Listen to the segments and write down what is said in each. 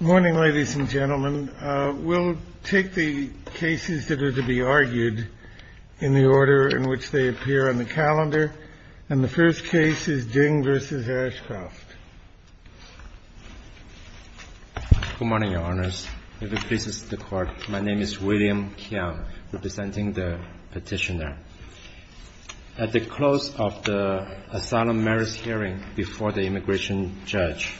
Morning, ladies and gentlemen. We'll take the cases that are to be argued in the order in which they appear on the calendar. And the first case is Ding v. Ashcroft. Good morning, Your Honors. If it pleases the Court, my name is William Kiang, representing the Petitioner. At the close of the asylum marriage hearing before the immigration judge,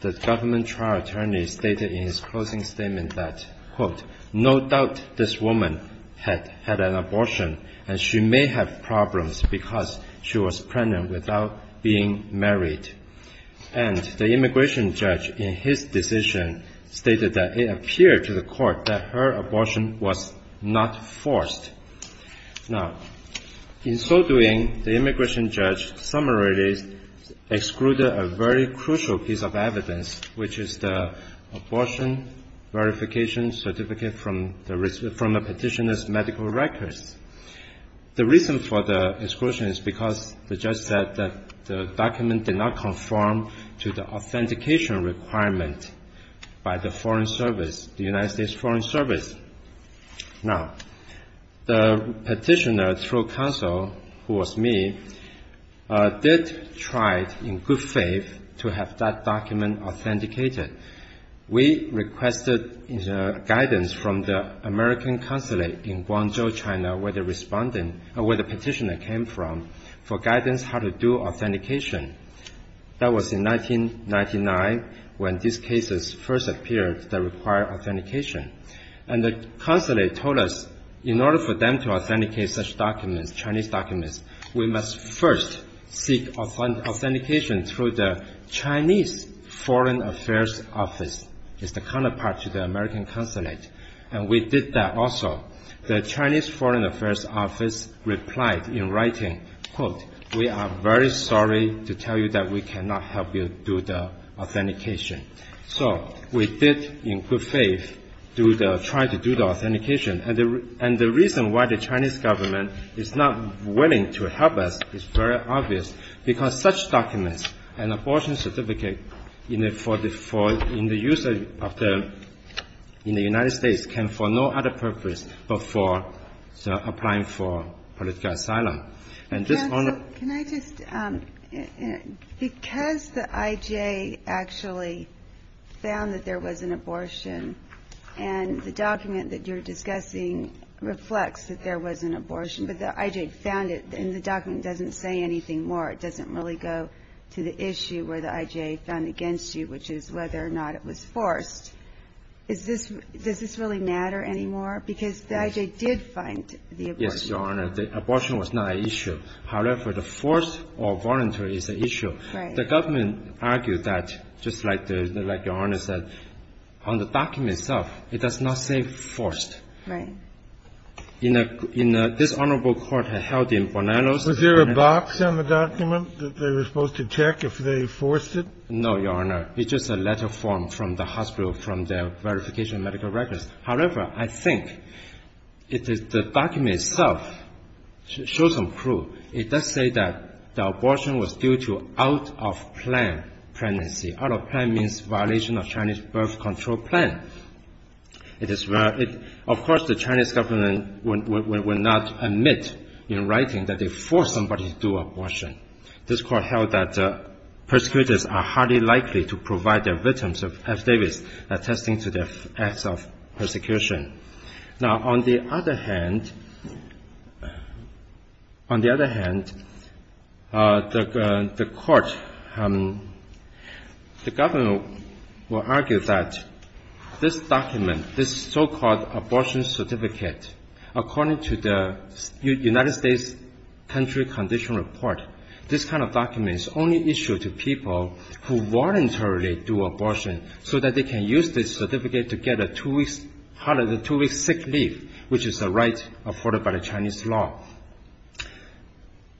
the government trial attorney stated in his closing statement that, quote, no doubt this woman had had an abortion and she may have problems because she was pregnant without being married. And the immigration judge, in his decision, stated that it appeared to the Court that her abortion was not forced. Now, in so doing, the immigration judge summarized excluded a very crucial piece of evidence, which is the abortion verification certificate from the Petitioner's medical records. The reason for the exclusion is because the judge said that the document did not conform to the authentication requirement by the Foreign Service, the United States Foreign Service. Now, the Petitioner, through counsel, who was me, did try in good faith to have that document authenticated. We requested guidance from the American consulate in Guangzhou, China, where the Petitioner came from, for guidance how to do authentication. That was in 1999 when these cases first appeared that required authentication. And the consulate told us in order for them to authenticate such documents, Chinese documents, we must first seek authentication through the Chinese Foreign Affairs Office. It's the counterpart to the American consulate. And we did that also. The Chinese Foreign Affairs Office replied in writing, quote, we are very sorry to tell you that we cannot help you do the authentication. So we did, in good faith, try to do the authentication. And the reason why the Chinese government is not willing to help us is very obvious, because such documents, an abortion certificate in the use in the United States can for no other purpose but for applying for political asylum. And just on the Can I just, because the IJA actually found that there was an abortion, and the document that you're discussing reflects that there was an abortion, but the IJA found it, and the document doesn't say anything more. It doesn't really go to the issue where the IJA found against you, which is whether or not it was forced. Does this really matter anymore? Because the IJA did find the abortion Yes, Your Honor. The abortion was not an issue. However, the forced or voluntary is an issue. The government argued that, just like Your Honor said, on the document itself, it does not say forced. This Honorable Court held in Bonanno's Was there a box on the document that they were supposed to check if they forced it? No, Your Honor. It's just a letter form from the hospital, from their verification medical records. However, I think the document itself shows some proof. It does say that the abortion was due to out-of-plan pregnancy. Out-of-plan means violation of Chinese birth control plan. Of course, the Chinese government would not admit in writing that they forced somebody to do abortion. This Court held that the persecutors are highly likely to provide their victims of F-Davis, attesting to their acts of persecution. Now on the other hand, on the other hand, the Court, the government will argue that this document, this so-called abortion certificate, according to the United States country condition report, this kind of document is only issued to people who voluntarily do abortion so that they can use this certificate to get a two-week sick leave, which is a right afforded by the Chinese law.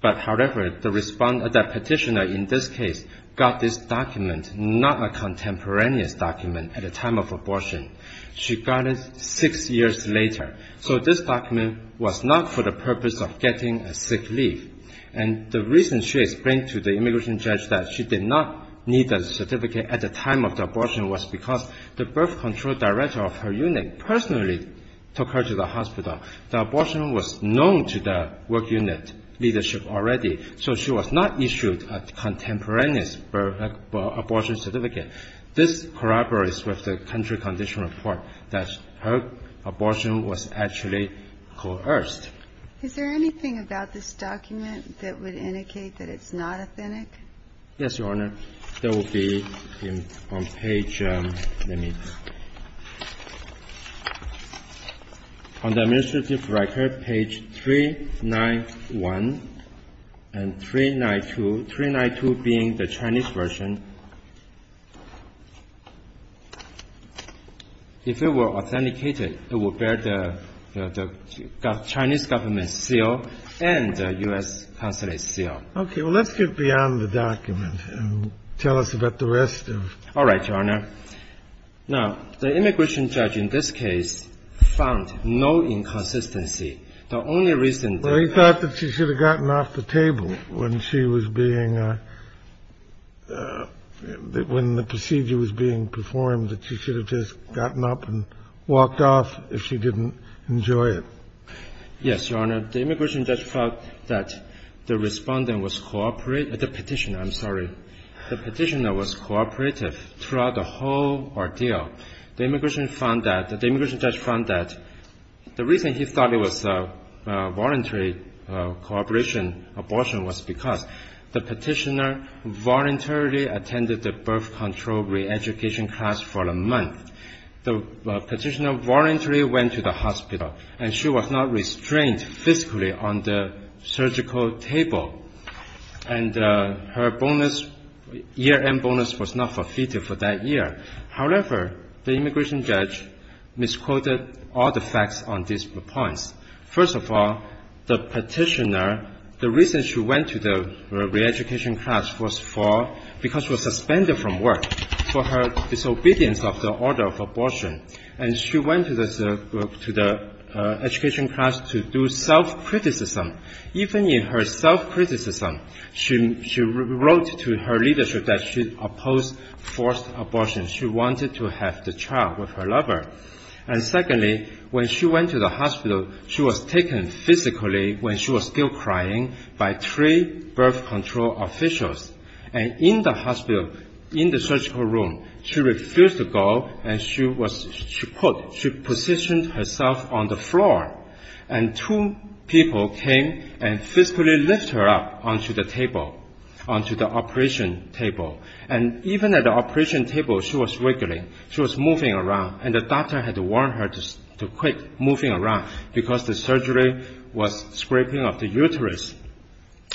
However, the petitioner in this case got this document, not a contemporaneous document at the time of abortion. She got it six years later. So this document was not for the purpose of getting a sick leave. And the reason she explained to the immigration judge that she did not need the certificate at the time of the abortion was because the birth control director of her unit personally took her to the hospital. The abortion was known to the work unit leadership already, so she was not issued a contemporaneous birth abortion certificate. This corroborates with the country condition report that her Is there anything about this document that would indicate that it's not authentic? Yes, Your Honor. There will be on page, let me, on the administrative record, page 391 and 392, 392 being the Chinese version. If it were authenticated, it would bear the Chinese government's seal and the U.S. consulate's seal. Okay. Well, let's get beyond the document and tell us about the rest of All right, Your Honor. Now, the immigration judge in this case found no inconsistency. The only reason Well, he thought that she should have gotten off the table when she was being, when the procedure was being performed, that she should have just gotten up and walked off if she didn't enjoy it. Yes, Your Honor. The immigration judge found that the respondent was, the petitioner, I'm sorry, the petitioner was cooperative throughout the whole ordeal. The immigration found that, the immigration judge found that the reason he thought it was a voluntary cooperation abortion was because the petitioner voluntarily attended the birth control reeducation class for a month. The petitioner voluntarily went to the hospital and she was not restrained physically on the surgical table. And her bonus, year-end bonus was not forfeited for that year. However, the immigration judge misquoted all the facts on these points. First of all, the petitioner, the reason she went to the reeducation class was for, because she was And she went to the education class to do self-criticism. Even in her self-criticism, she wrote to her leadership that she opposed forced abortion. She wanted to have the child with her lover. And secondly, when she went to the hospital, she was taken physically when she was still crying by three birth control officials. And in the hospital, in the surgical room, she refused to go and she was, she put, she positioned herself on the floor. And two people came and physically lifted her up onto the table, onto the operation table. And even at the operation table, she was wiggling, she was moving around. And the doctor had to warn her to quit moving around because the surgery was scraping up the uterus.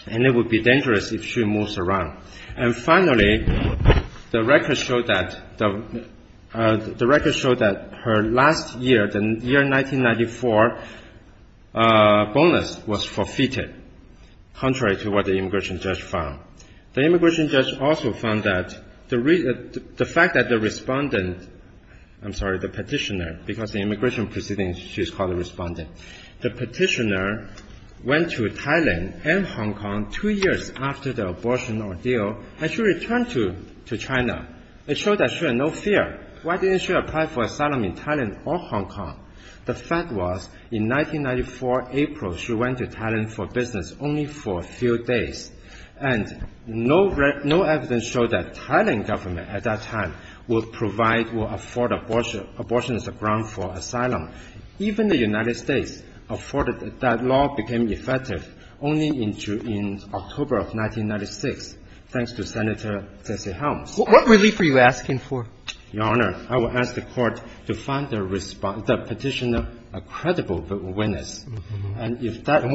And it would be dangerous if she moves around. And finally, the record showed that the record showed that her last year, the year 1994, bonus was forfeited, contrary to what the immigration judge found. The immigration judge also found that the fact that the respondent, I'm sorry, the petitioner, because the immigration proceedings, she's called a respondent. The petitioner went to deal and she returned to China. It showed that she had no fear. Why didn't she apply for asylum in Thailand or Hong Kong? The fact was in 1994, April, she went to Thailand for business only for a few days. And no, no evidence showed that Thailand government at that time would provide, would afford abortion as a ground for asylum. Even the record showed that the record showed that the petitioner, I'm sorry, the petitioner in Thailand? Thanks to Senator Jesse Helms. What relief are you asking for? Your Honor, I would ask the Court to find the petitioner a credible witness. And if that is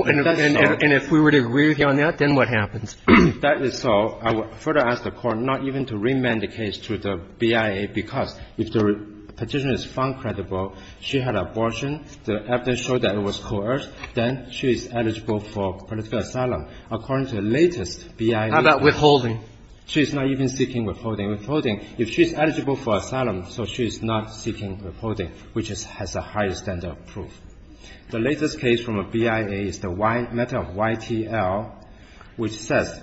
so And if we would agree with you on that, then what happens? If that is so, I would further ask the Court not even to remand the case to the BIA, because if the petitioner is found credible, she had abortion, the evidence showed that it was coerced, then she's eligible for political asylum. According to the latest BIA. How about withholding? She's not even seeking withholding. Withholding, if she's eligible for asylum, so she's not seeking withholding, which has the highest standard of proof. The latest case from a BIA is the matter of YTL, which says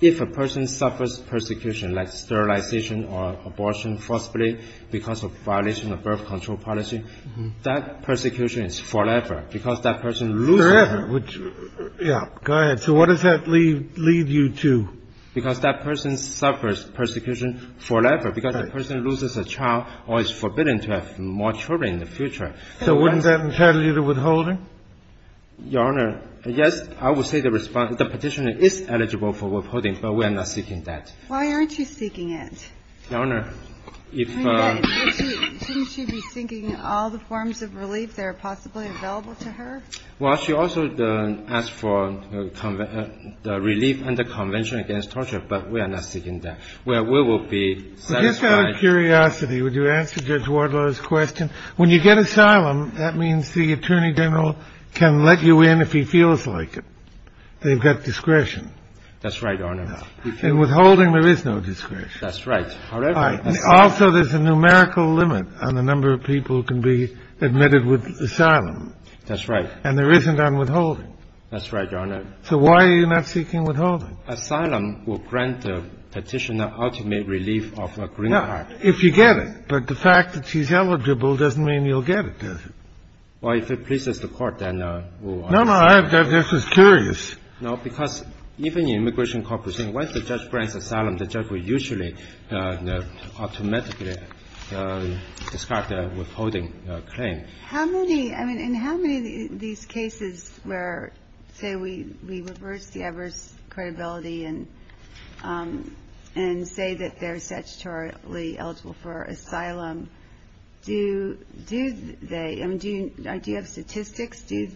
if a person suffers persecution like sterilization or abortion, forcibly, because of violation of birth control policy, that persecution is forever, because that person loses forever. Which, yeah, go ahead. So what does that lead you to? Because that person suffers persecution forever, because the person loses a child or is forbidden to have more children in the future. So wouldn't that entail you the withholding? Your Honor, yes, I would say the petitioner is eligible for withholding, but we are not seeking that. Why aren't you seeking it? Your Honor, if the ---- Shouldn't she be seeking all the forms of relief that are possibly available to her? Well, she also asked for the relief and the Convention against Torture, but we are not seeking that. We will be satisfied ---- Just out of curiosity, would you answer Judge Wardlow's question? When you get asylum, that means the Attorney General can let you in if he feels like it. They've got discretion. That's right, Your Honor. In withholding, there is no discretion. That's right. However, asylum ---- Also, there's a numerical limit on the number of people who can be admitted with asylum. That's right. And there isn't on withholding. That's right, Your Honor. So why are you not seeking withholding? Asylum will grant the petitioner ultimate relief of a green card. No, if you get it. But the fact that she's eligible doesn't mean you'll get it, does it? Well, if it pleases the Court, then we'll ask. No, no, I have just as curious. No, because even the Immigration Court proceeding, once the judge grants asylum, the judge will usually automatically discard the withholding claim. How many ---- I mean, in how many of these cases where, say, we reverse the adverse credibility and say that they're statutorily eligible for asylum, do they ---- I mean, do you have statistics? Do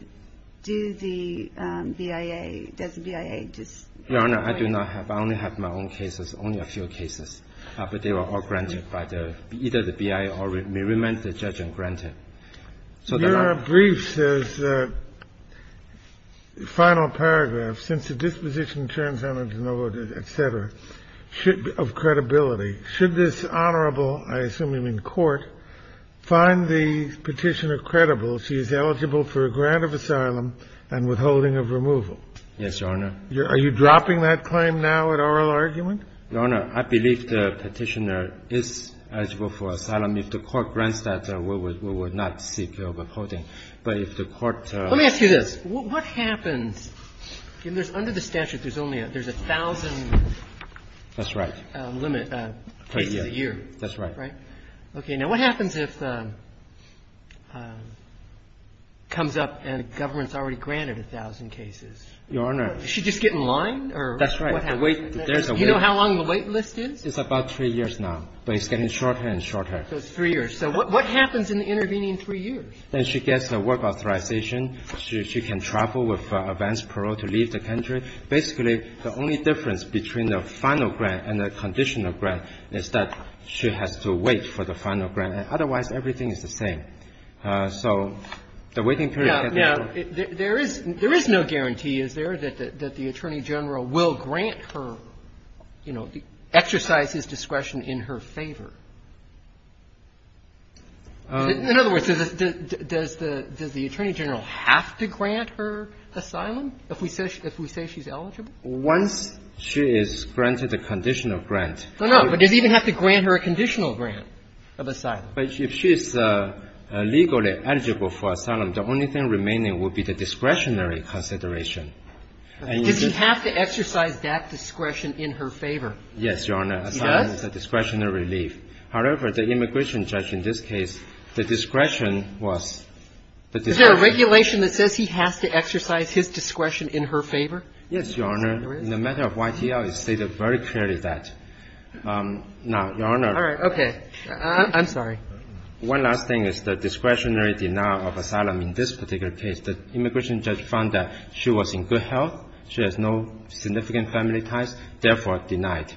the BIA ---- does the BIA just ---- Your Honor, I do not have. I only have my own cases, only a few cases. But they were all granted by the ---- either the BIA or the remanded judge granted. So the ---- The brief says, the final paragraph, since the disposition turns out to be no voted, et cetera, of credibility, should this Honorable, I assume you mean Court, find the petitioner credible she is eligible for a grant of asylum and withholding of removal? Yes, Your Honor. Are you dropping that claim now at oral argument? Your Honor, I believe the petitioner is eligible for asylum. If the Court grants that, we would not seek her withholding. But if the Court ---- Let me ask you this. What happens if there's under the statute, there's only a ---- there's a thousand ---- That's right. ---- limit cases a year? That's right. Right? Okay. Now, what happens if it comes up and the government's already granted a thousand cases? Your Honor ---- Does she just get in line or what happens? That's right. The wait ---- You know how long the wait list is? It's about three years now. But it's getting shorter and shorter. So it's three years. So what happens in the intervening three years? Then she gets a work authorization. She can travel with advance parole to leave the country. Basically, the only difference between the final grant and the conditional grant is that she has to wait for the final grant. Otherwise, everything is the same. So the waiting period ---- Now, there is no guarantee, is there, that the Attorney General will grant her, you know, exercise his discretion in her favor? In other words, does the Attorney General have to grant her asylum if we say she's eligible? Once she is granted a conditional grant. No, no. But does he even have to grant her a conditional grant of asylum? But if she is legally eligible for asylum, the only thing remaining would be the discretionary consideration. Does he have to exercise that discretion in her favor? Yes, Your Honor. He does? Asylum is a discretionary leave. However, the immigration judge in this case, the discretion was the discretion. Is there a regulation that says he has to exercise his discretion in her favor? Yes, Your Honor. In the matter of YTL, it stated very clearly that. Now, Your Honor ---- All right. Okay. I'm sorry. One last thing is the discretionary denial of asylum in this particular case. The immigration judge found that she was in good health, she has no significant family ties, therefore denied.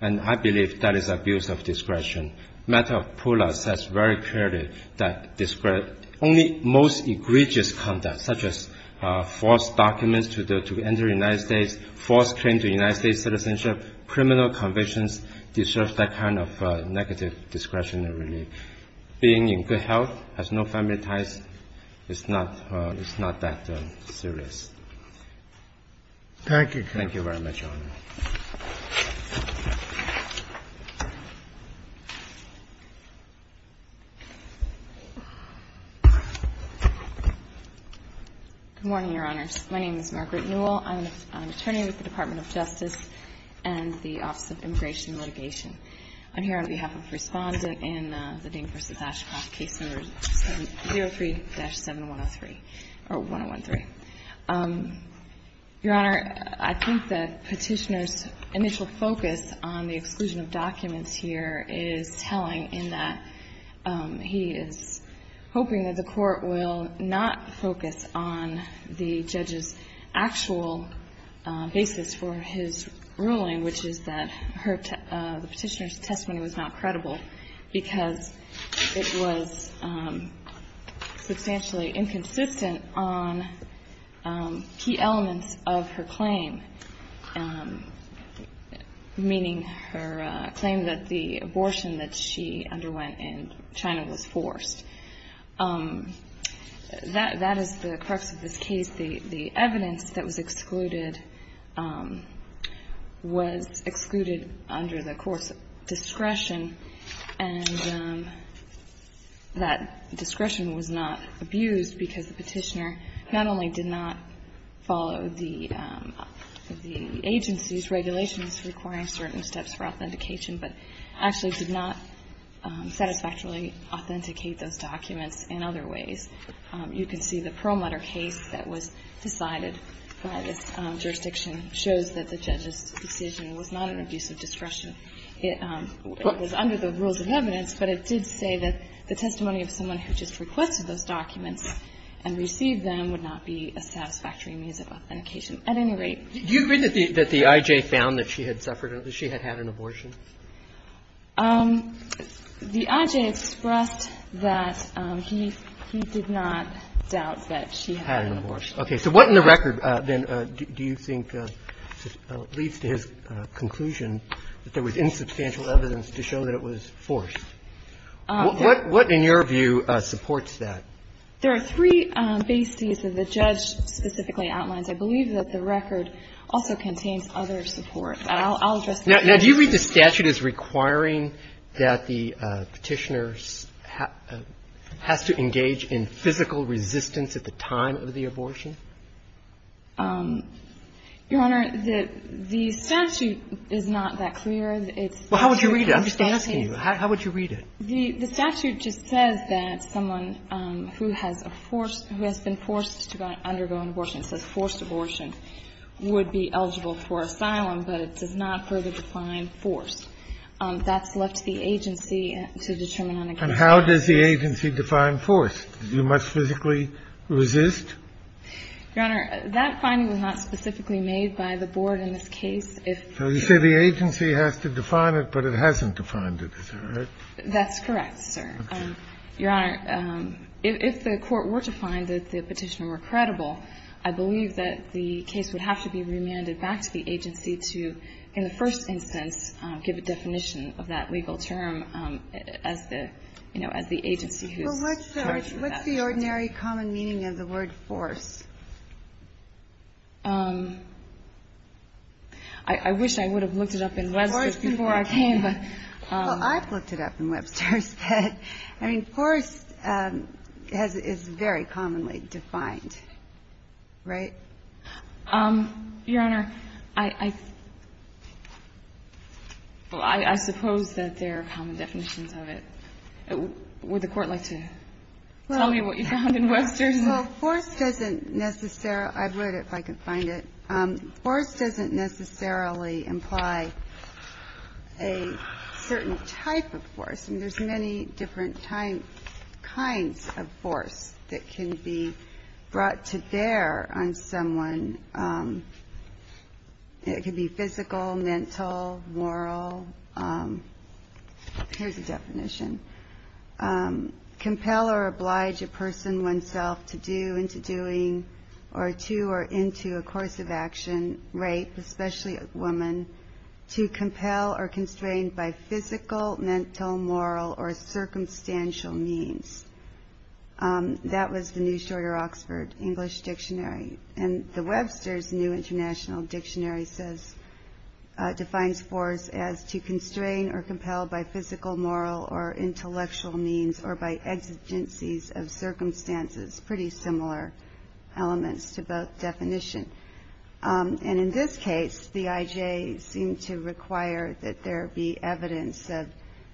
And I believe that is abuse of discretion. Matter of PULA says very clearly that only most egregious conduct, such as forced documents to enter the United States, forced claim to United States citizenship, criminal convictions, deserves that kind of negative discretionary leave. Being in good health, has no family ties, is not that serious. Thank you. Thank you very much, Your Honor. Good morning, Your Honors. My name is Margaret Newell. I'm an attorney with the Department of Justice and the Office of Immigration and Litigation. I'm here on behalf of Respondent in the Dane v. Ashcroft case number 03-7103 or 1013. Your Honor, I think that Petitioner's initial focus on the exclusion of documents here is telling in that he is hoping that the Court will not focus on the judge's actual basis for his ruling, which is that the Petitioner's testimony was not credible because it was substantially inconsistent on key elements of her claim, meaning her claim that the abortion that she underwent in China was forced. That is the crux of this case. The evidence that was excluded was excluded under the Court's discretion and that discretion was not abused because the Petitioner not only did not follow the agency's regulations requiring certain steps for authentication, but actually did not satisfactorily authenticate those documents in other ways. You can see the Perlmutter case that was decided by this jurisdiction shows that the judge's decision was not an abuse of discretion. It was under the rules of evidence, but it did say that the testimony of someone who just requested those documents and received them would not be a satisfactory means of authentication. At any rate you've written that the I.J. found that she had suffered, that she had had an abortion. The I.J. expressed that he did not doubt that she had an abortion. Okay. So what in the record then do you think leads to his conclusion that there was insubstantial evidence to show that it was forced? What in your view supports that? There are three bases that the judge specifically outlines. I believe that the record also contains other support. I'll address that. Now, do you read the statute as requiring that the Petitioner has to engage in physical resistance at the time of the abortion? Your Honor, the statute is not that clear. It's too complicated. Well, how would you read it? I'm just asking you. How would you read it? The statute just says that someone who has a forced – who has been forced to undergo an abortion, it says forced abortion, would be eligible for asylum, but it does not further define forced. That's left to the agency to determine on a case-by-case basis. And how does the agency define forced? Do you must physically resist? Your Honor, that finding was not specifically made by the Board in this case. So you say the agency has to define it, but it hasn't defined it, is that right? That's correct, sir. Okay. Your Honor, if the Court were to find that the Petitioner were credible, I believe that the case would have to be remanded back to the agency to, in the first instance, give a definition of that legal term as the, you know, as the agency who's in charge of that. Well, what's the ordinary common meaning of the word forced? I wish I would have looked it up in Webster's before I came, but – Well, I've looked it up in Webster's. I mean, forced is very commonly defined, right? Your Honor, I suppose that there are common definitions of it. Would the Court like to tell me what you found in Webster's? Well, forced doesn't necessarily – I wrote it if I could find it. Forced doesn't necessarily imply a certain type of force. I mean, there's many different kinds of force that can be brought to bear on someone. It could be physical, mental, moral. Here's a definition. Compel or oblige a person oneself to do, into doing, or to or into a course of action, rape, especially a woman, to compel or constrain by physical, mental, moral, or circumstantial means. That was the New Shorter Oxford English Dictionary. And the Webster's New International Dictionary says – defines force as to constrain or compel by physical, moral, or intellectual means or by exigencies of circumstances. Pretty similar elements to both definitions. And in this case, the IJ seemed to require that there be evidence of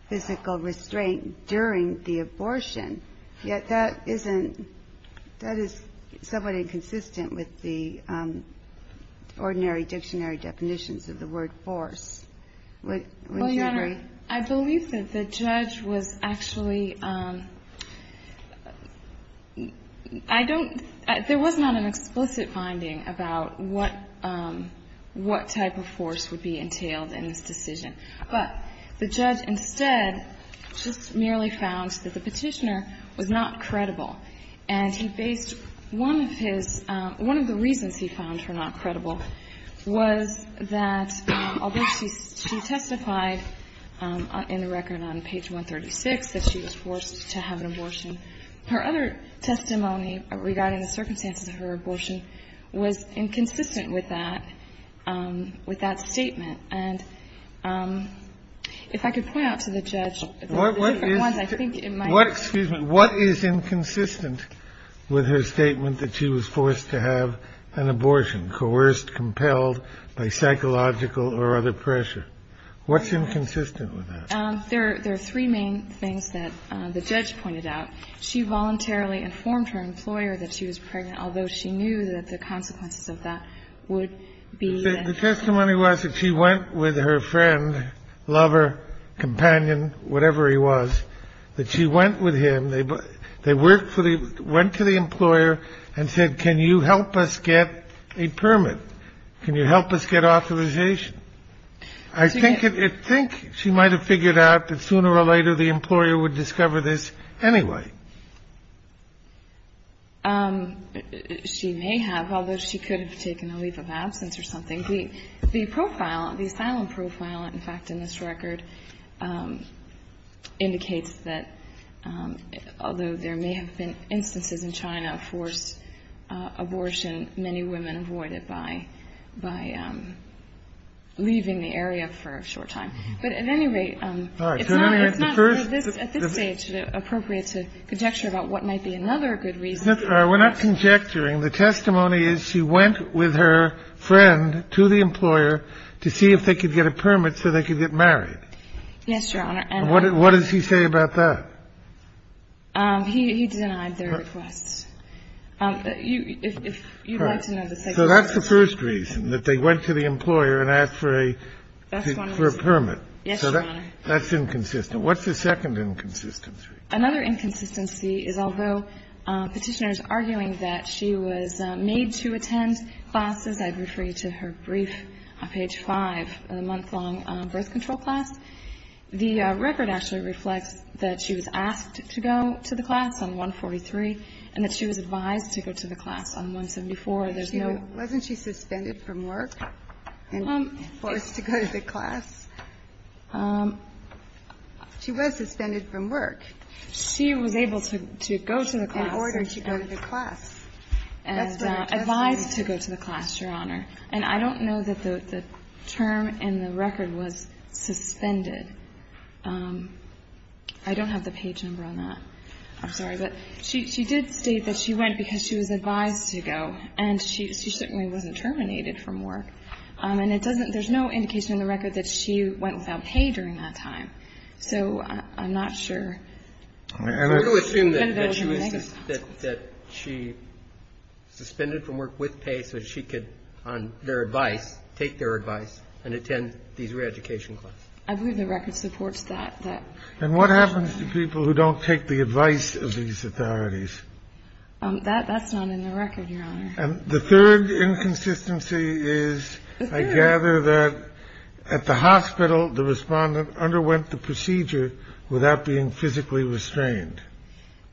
physical restraint during the abortion. Yet that isn't – that is somewhat inconsistent with the ordinary dictionary definitions of the word force. Would you agree? I believe that the judge was actually – I don't – there was not an explicit finding about what – what type of force would be entailed in this decision. But the judge instead just merely found that the Petitioner was not credible. And he based one of his – one of the reasons he found her not credible was that, although she testified in the record on page 136 that she was forced to have an abortion, her other testimony regarding the circumstances of her abortion was inconsistent with that – with that statement. And if I could point out to the judge the different ones, I think it might be – What is – what – excuse me. What is inconsistent with her statement that she was forced to have an abortion, coerced, compelled by psychological or other pressure? What's inconsistent with that? There are three main things that the judge pointed out. She voluntarily informed her employer that she was pregnant, although she knew that the consequences of that would be that she had an abortion. The testimony was that she went with her friend, lover, companion, whatever he was, that she went with him. And they worked for the – went to the employer and said, can you help us get a permit? Can you help us get authorization? I think it – I think she might have figured out that sooner or later the employer would discover this anyway. She may have, although she could have taken a leave of absence or something. The profile, the asylum profile, in fact, in this record, indicates that, although there may have been instances in China of forced abortion, many women avoided by – by leaving the area for a short time. But at any rate, it's not – it's not at this stage appropriate to conjecture about what might be another good reason. We're not conjecturing. The testimony is she went with her friend to the employer to see if they could get a permit so they could get married. Yes, Your Honor. And what does he say about that? He denied their request. You'd like to know the second reason. So that's the first reason, that they went to the employer and asked for a permit. Yes, Your Honor. That's inconsistent. What's the second inconsistency? Another inconsistency is, although Petitioner is arguing that she was made to attend classes, I'd refer you to her brief on page 5 of the month-long birth control class, the record actually reflects that she was asked to go to the class on 143 and that she was advised to go to the class on 174. There's no – Wasn't she suspended from work and forced to go to the class? She was suspended from work. She was able to go to the class and advised to go to the class, Your Honor. And I don't know that the term in the record was suspended. I don't have the page number on that. I'm sorry. But she did state that she went because she was advised to go, and she certainly wasn't terminated from work. And it doesn't – there's no indication in the record that she went without pay during that time. So I'm not sure. And I do assume that she was – that she suspended from work with pay so that she could, on their advice, take their advice and attend these re-education classes. I believe the record supports that. And what happens to people who don't take the advice of these authorities? That's not in the record, Your Honor. And the third inconsistency is, I gather, that at the hospital, the respondent underwent the procedure without being physically restrained.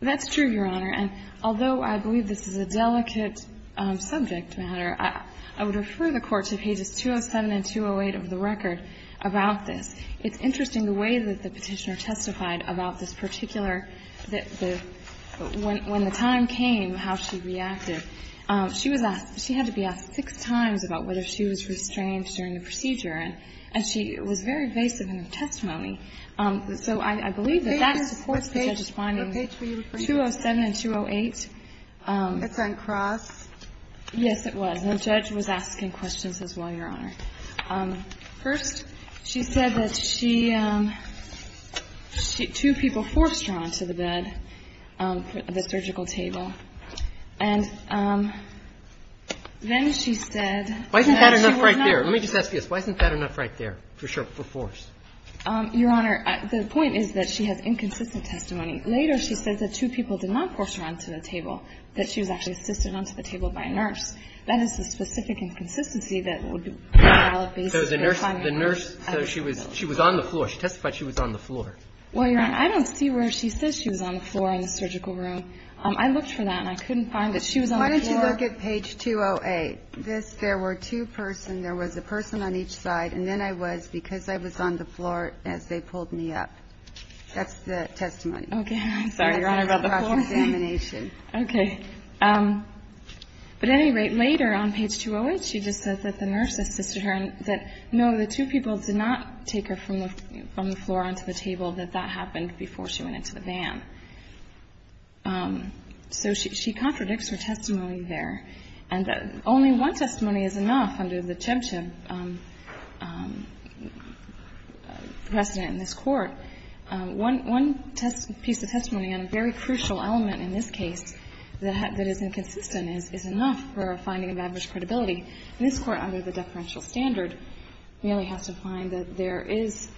That's true, Your Honor. And although I believe this is a delicate subject matter, I would refer the Court to pages 207 and 208 of the record about this. It's interesting the way that the Petitioner testified about this particular – when the time came, how she reacted. She was asked – she had to be asked six times about whether she was restrained during the procedure. And she was very evasive in her testimony. So I believe that that supports the judge's findings. The pages – the pages of page 207 and 208. It's on cross. Yes, it was. And the judge was asking questions as well, Your Honor. First? She said that she – two people forced her onto the bed, the surgical table. And then she said that she was not – Why isn't that enough right there? Let me just ask you this. Why isn't that enough right there for force? Your Honor, the point is that she has inconsistent testimony. Later, she said that two people did not force her onto the table, that she was actually assisted onto the table by a nurse. That is the specific inconsistency that would be valid based on the finding of a nurse at the hospital. So she was on the floor. She testified she was on the floor. Well, Your Honor, I don't see where she says she was on the floor in the surgical room. I looked for that, and I couldn't find that she was on the floor. Why don't you look at page 208? This – there were two persons. There was a person on each side, and then I was, because I was on the floor as they pulled me up. That's the testimony. Okay. I'm sorry, Your Honor, about the floor. That's the cross-examination. Okay. But at any rate, later on page 208, she just says that the nurse assisted her and that, no, the two people did not take her from the floor onto the table, that that happened before she went into the van. So she contradicts her testimony there. And only one testimony is enough under the Chemchev precedent in this Court. One piece of testimony on a very crucial element in this case that is inconsistent is enough for a finding of adverse credibility. And this Court, under the deferential standard, really has to find that there is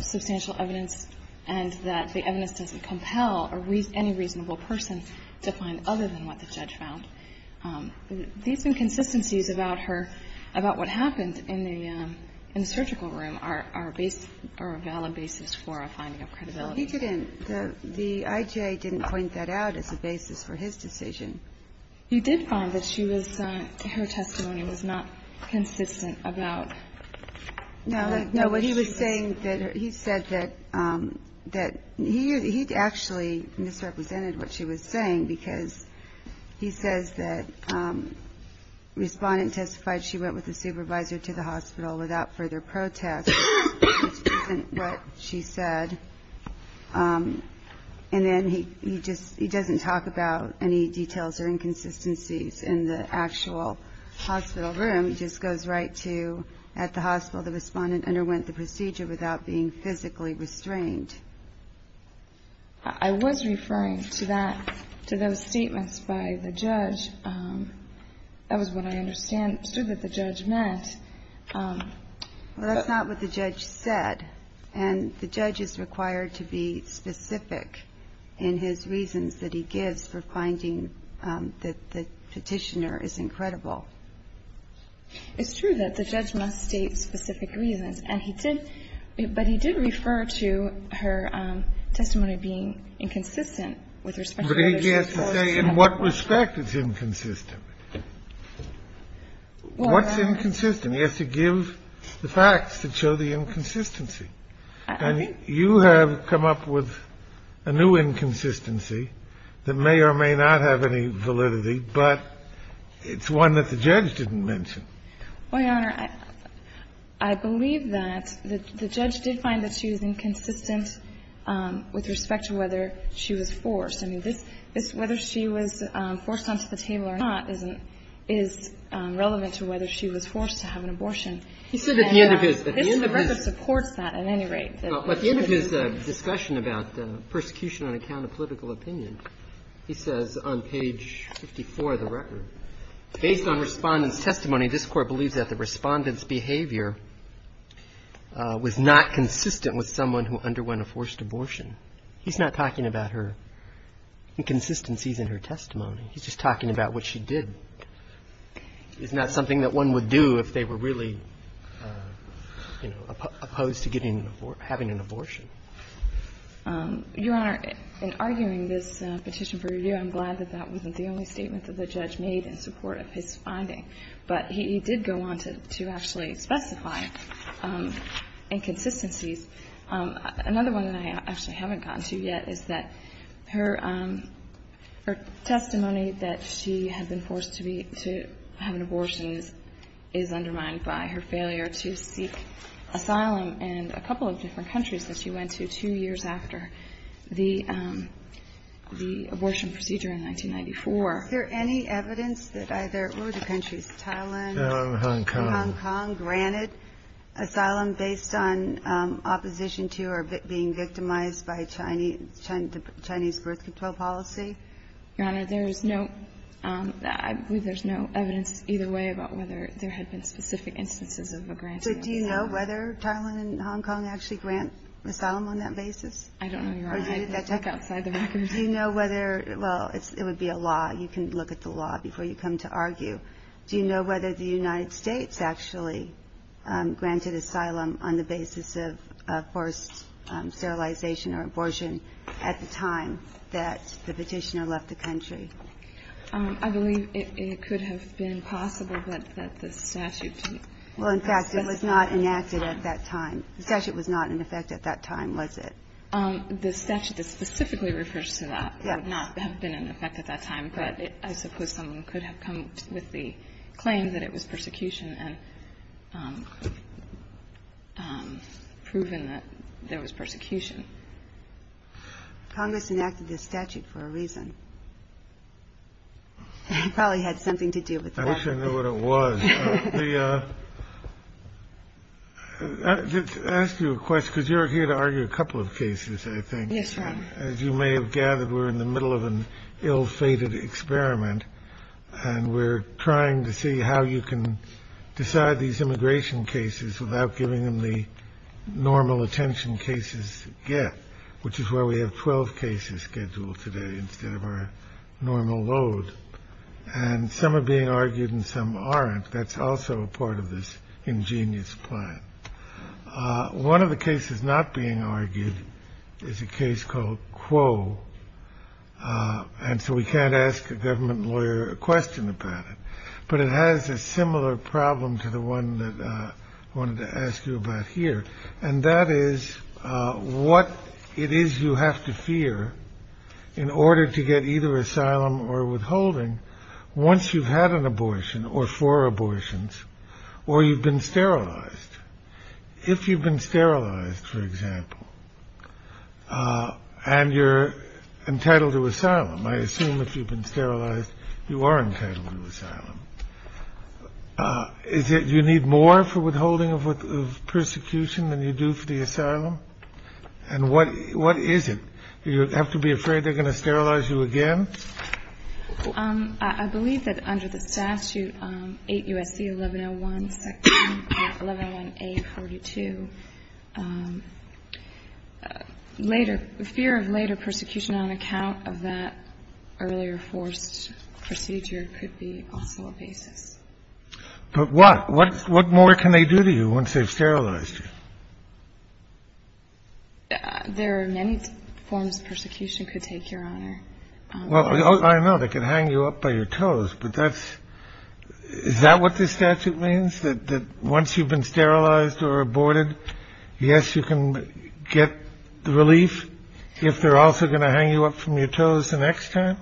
substantial evidence and that the evidence doesn't compel any reasonable person to find other than what the judge found. These inconsistencies about her, about what happened in the surgical room are a valid basis for a finding of credibility. He didn't, the I.J. didn't point that out as a basis for his decision. He did find that she was, her testimony was not consistent about. No, what he was saying, he said that he actually misrepresented what she was saying because he says that respondent testified she went with the supervisor to the hospital without further protest, which isn't what she said. And then he just, he doesn't talk about any details or inconsistencies in the actual hospital room. He just goes right to, at the hospital, the respondent underwent the procedure without being physically restrained. I was referring to that, to those statements by the judge. That was what I understood that the judge meant. Well, that's not what the judge said. And the judge is required to be specific in his reasons that he gives for finding that the petitioner is incredible. It's true that the judge must state specific reasons. And he did, but he did refer to her testimony being inconsistent with respect to what she was supposed to say. But he has to say in what respect it's inconsistent. What's inconsistent? He has to give the facts that show the inconsistency. And you have come up with a new inconsistency that may or may not have any validity, but it's one that the judge didn't mention. Well, Your Honor, I believe that the judge did find that she was inconsistent with respect to whether she was forced. I mean, this, whether she was forced onto the table or not, is relevant to whether she was forced to have an abortion. He said at the end of his, at the end of his. The record supports that at any rate. At the end of his discussion about persecution on account of political opinion, he says on page 54 of the record, Based on Respondent's testimony, this Court believes that the Respondent's behavior was not consistent with someone who underwent a forced abortion. He's not talking about her inconsistencies in her testimony. He's just talking about what she did. It's not something that one would do if they were really, you know, opposed to getting an abortion, having an abortion. Your Honor, in arguing this petition for review, I'm glad that that wasn't the only judge made in support of his finding. But he did go on to actually specify inconsistencies. Another one that I actually haven't gotten to yet is that her testimony that she had been forced to be, to have an abortion is undermined by her failure to seek asylum in a couple of different countries that she went to two years after the abortion procedure in 1994. Is there any evidence that either, what were the countries, Thailand? Hong Kong. Hong Kong granted asylum based on opposition to or being victimized by Chinese birth control policy? Your Honor, there is no, I believe there's no evidence either way about whether there had been specific instances of a granted asylum. So do you know whether Thailand and Hong Kong actually grant asylum on that basis? I don't know, Your Honor. Take outside the record. Do you know whether, well, it would be a law. You can look at the law before you come to argue. Do you know whether the United States actually granted asylum on the basis of forced sterilization or abortion at the time that the petitioner left the country? I believe it could have been possible that the statute did. Well, in fact, it was not enacted at that time. The statute was not in effect at that time, was it? The statute that specifically refers to that would not have been in effect at that time, but I suppose someone could have come with the claim that it was persecution and proven that there was persecution. Congress enacted this statute for a reason. It probably had something to do with the matter. I wish I knew what it was. Let me ask you a question, because you're here to argue a couple of cases, I think. Yes, Your Honor. As you may have gathered, we're in the middle of an ill-fated experiment, and we're trying to see how you can decide these immigration cases without giving them the normal attention cases get, which is why we have 12 cases scheduled today instead of our normal load. And some are being argued and some aren't. That's also a part of this ingenious plan. One of the cases not being argued is a case called Quo, and so we can't ask a government lawyer a question about it. But it has a similar problem to the one that I wanted to ask you about here, and that is what it is you have to fear in order to get either asylum or withholding once you've had an abortion or four abortions or you've been sterilized. If you've been sterilized, for example, and you're entitled to asylum, I assume if you've been sterilized, you are entitled to asylum. Is it you need more for withholding of persecution than you do for the asylum? And what is it? Do you have to be afraid they're going to sterilize you again? I believe that under the statute, 8 U.S.C. 1101, 1101A42, later, fear of later persecution on account of that earlier forced procedure could be also a basis. But what? What more can they do to you once they've sterilized you? There are many forms of persecution could take, Your Honor. Well, I know. They could hang you up by your toes. But that's – is that what this statute means, that once you've been sterilized or aborted, yes, you can get the relief if they're also going to hang you up from your toes the next time?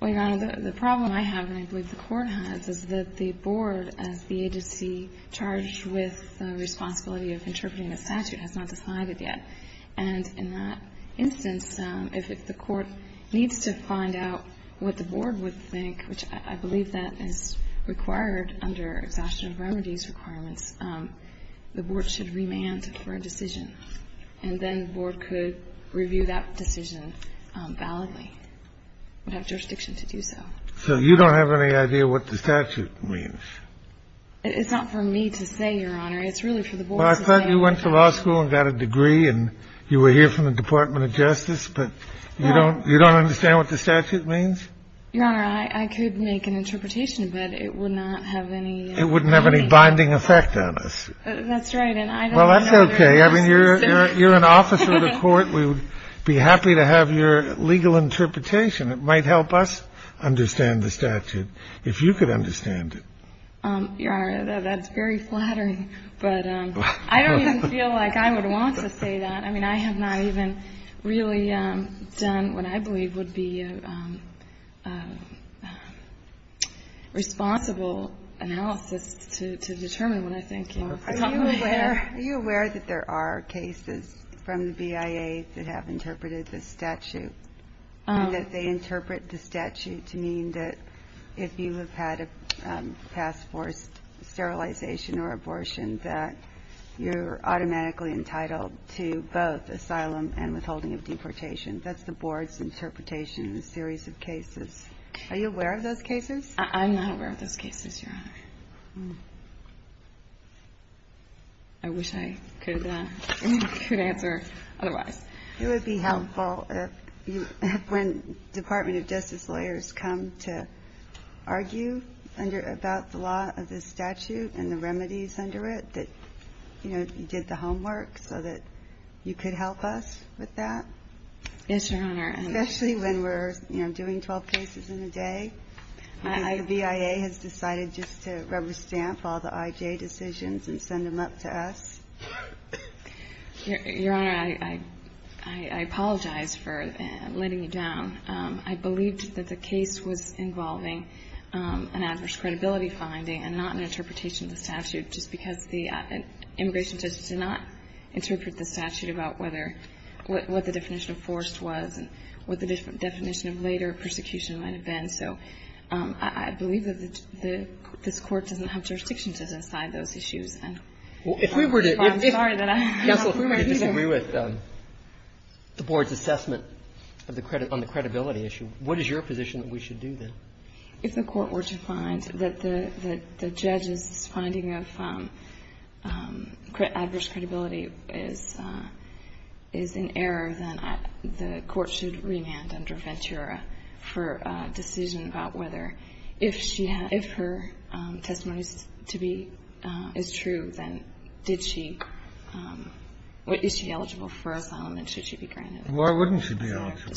Well, Your Honor, the problem I have, and I believe the Court has, is that the Board, as the agency charged with the responsibility of interpreting the statute, has not decided yet. And in that instance, if the Court needs to find out what the Board would think, which I believe that is required under exhaustion of remedies requirements, the Board should remand for a decision. And then the Board could review that decision validly, without jurisdiction to do so. So you don't have any idea what the statute means? It's not for me to say, Your Honor. It's really for the Board to say. Well, I thought you went to law school and got a degree and you were here from the Department of Justice. But you don't – you don't understand what the statute means? Your Honor, I could make an interpretation, but it would not have any – It wouldn't have any binding effect on us. That's right. And I don't know – Well, that's okay. I mean, you're an officer of the Court. We would be happy to have your legal interpretation. It might help us understand the statute, if you could understand it. Your Honor, that's very flattering. But I don't even feel like I would want to say that. I mean, I have not even really done what I believe would be a responsible analysis to determine what I think you're talking about. Are you aware that there are cases from the BIA that have interpreted the statute and that they interpret the statute to mean that if you have had a past forced sterilization or abortion, that you're automatically entitled to both asylum and withholding of deportation? That's the Board's interpretation in a series of cases. Are you aware of those cases? I'm not aware of those cases, Your Honor. I wish I could answer otherwise. It would be helpful if, when Department of Justice lawyers come to argue about the law of this statute and the remedies under it, that you did the homework so that you could help us with that. Yes, Your Honor. Especially when we're doing 12 cases in a day. The BIA has decided just to rubber stamp all the IJ decisions and send them up to us. Your Honor, I apologize for letting you down. I believed that the case was involving an adverse credibility finding and not an interpretation of the statute, just because the immigration judge did not interpret the statute about whether what the definition of forced was and what the definition of later persecution might have been. So I believe that this Court doesn't have jurisdiction to decide those issues. If we were to disagree with the Board's assessment on the credibility issue, what is your position that we should do, then? If the Court were to find that the judge's finding of adverse credibility is in error, then the Court should remand under Ventura for a decision about whether, if her testimony is true, then did she or is she eligible for asylum and should she be granted it? Why wouldn't she be eligible?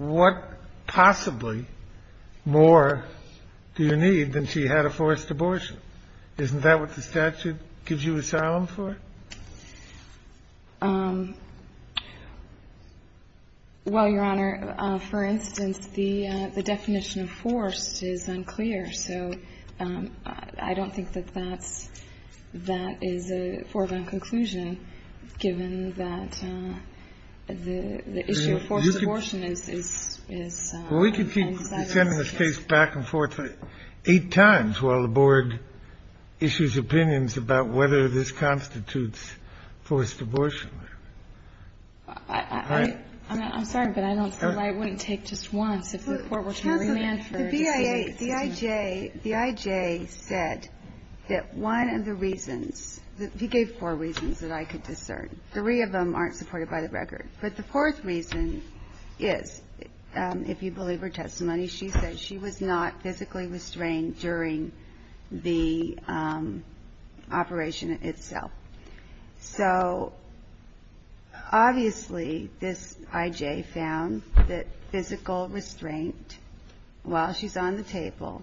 What possibly more do you need than she had a forced abortion? Isn't that what the statute gives you asylum for? Well, Your Honor, for instance, the definition of forced is unclear. So I don't think that that is a foregone conclusion, given that the issue of forced abortion is unsatisfactory. Well, we could keep sending this case back and forth eight times while the Board issues opinions about whether this constitutes forced abortion. I'm sorry, but I don't think I wouldn't take just once if the Court were to remand for a decision. The I.J. said that one of the reasons he gave four reasons that I could discern. Three of them aren't supported by the record. But the fourth reason is, if you believe her testimony, she said she was not physically restrained during the operation itself. So obviously this I.J. found that physical restraint while she's on the table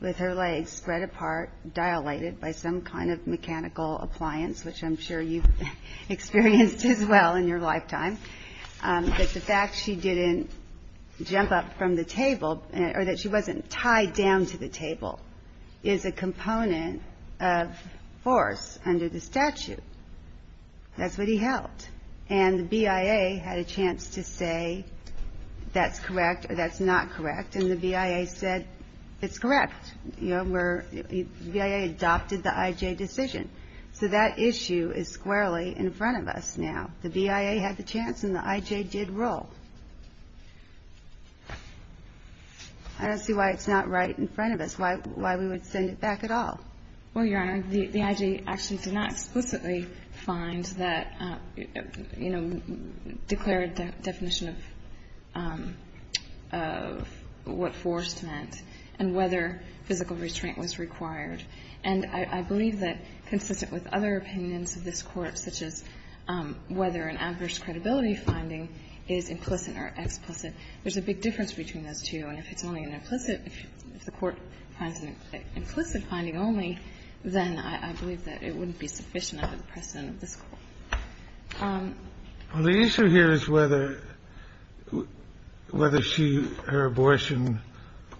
with her legs spread apart, dilated by some kind of mechanical appliance, which I'm sure you've experienced as well in your lifetime, that the fact she didn't jump up from the table or that she wasn't tied down to the table is a component of force under the statute. That's what he held. And the BIA had a chance to say that's correct or that's not correct, and the BIA said it's correct. You know, where the BIA adopted the I.J. decision. So that issue is squarely in front of us now. The BIA had the chance and the I.J. did roll. I don't see why it's not right in front of us, why we would send it back at all. Well, Your Honor, the I.J. actually did not explicitly find that, you know, declare a definition of what force meant and whether physical restraint was required. And I believe that, consistent with other opinions of this Court, such as whether an adverse credibility finding is implicit or explicit, there's a big difference between those two. And if it's only an implicit, if the Court finds an implicit finding only, then I believe that it wouldn't be sufficient under the precedent of this Court. Well, the issue here is whether she, her abortion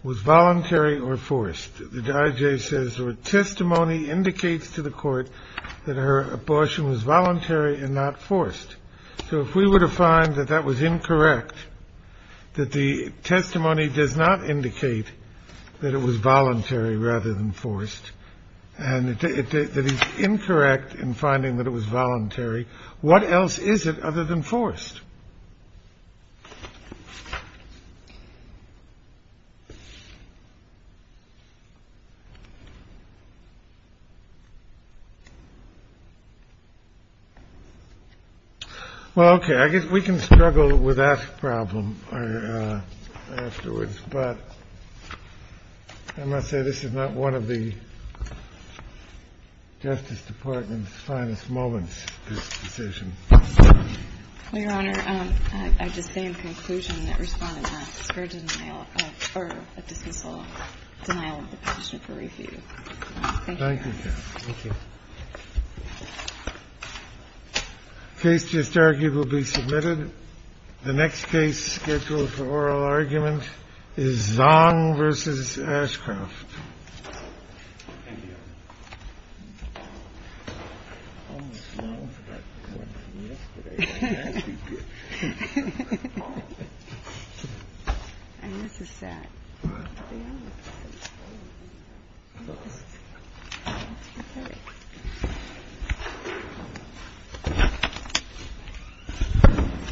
was voluntary or forced. The I.J. says her testimony indicates to the Court that her abortion was voluntary and not forced. So if we were to find that that was incorrect, that the testimony does not indicate that it was voluntary rather than forced, and it is incorrect in finding that it was voluntary, what else is it other than forced? Well, okay. I guess we can struggle with that problem afterwards. But I must say this is not one of the Justice Department's finest moments, this decision. Well, Your Honor, I'd just say in conclusion that Respondent Sperger denial of or a dismissal denial of the petition for refute. Thank you, Your Honor. Thank you, Kath. Thank you. The case to historically will be submitted. The next case scheduled for oral argument is Zong v. Ashcroft. Thank you, Your Honor. I almost forgot the question yesterday. That would be good. I miss the set. I know. I miss it. I miss it. All right.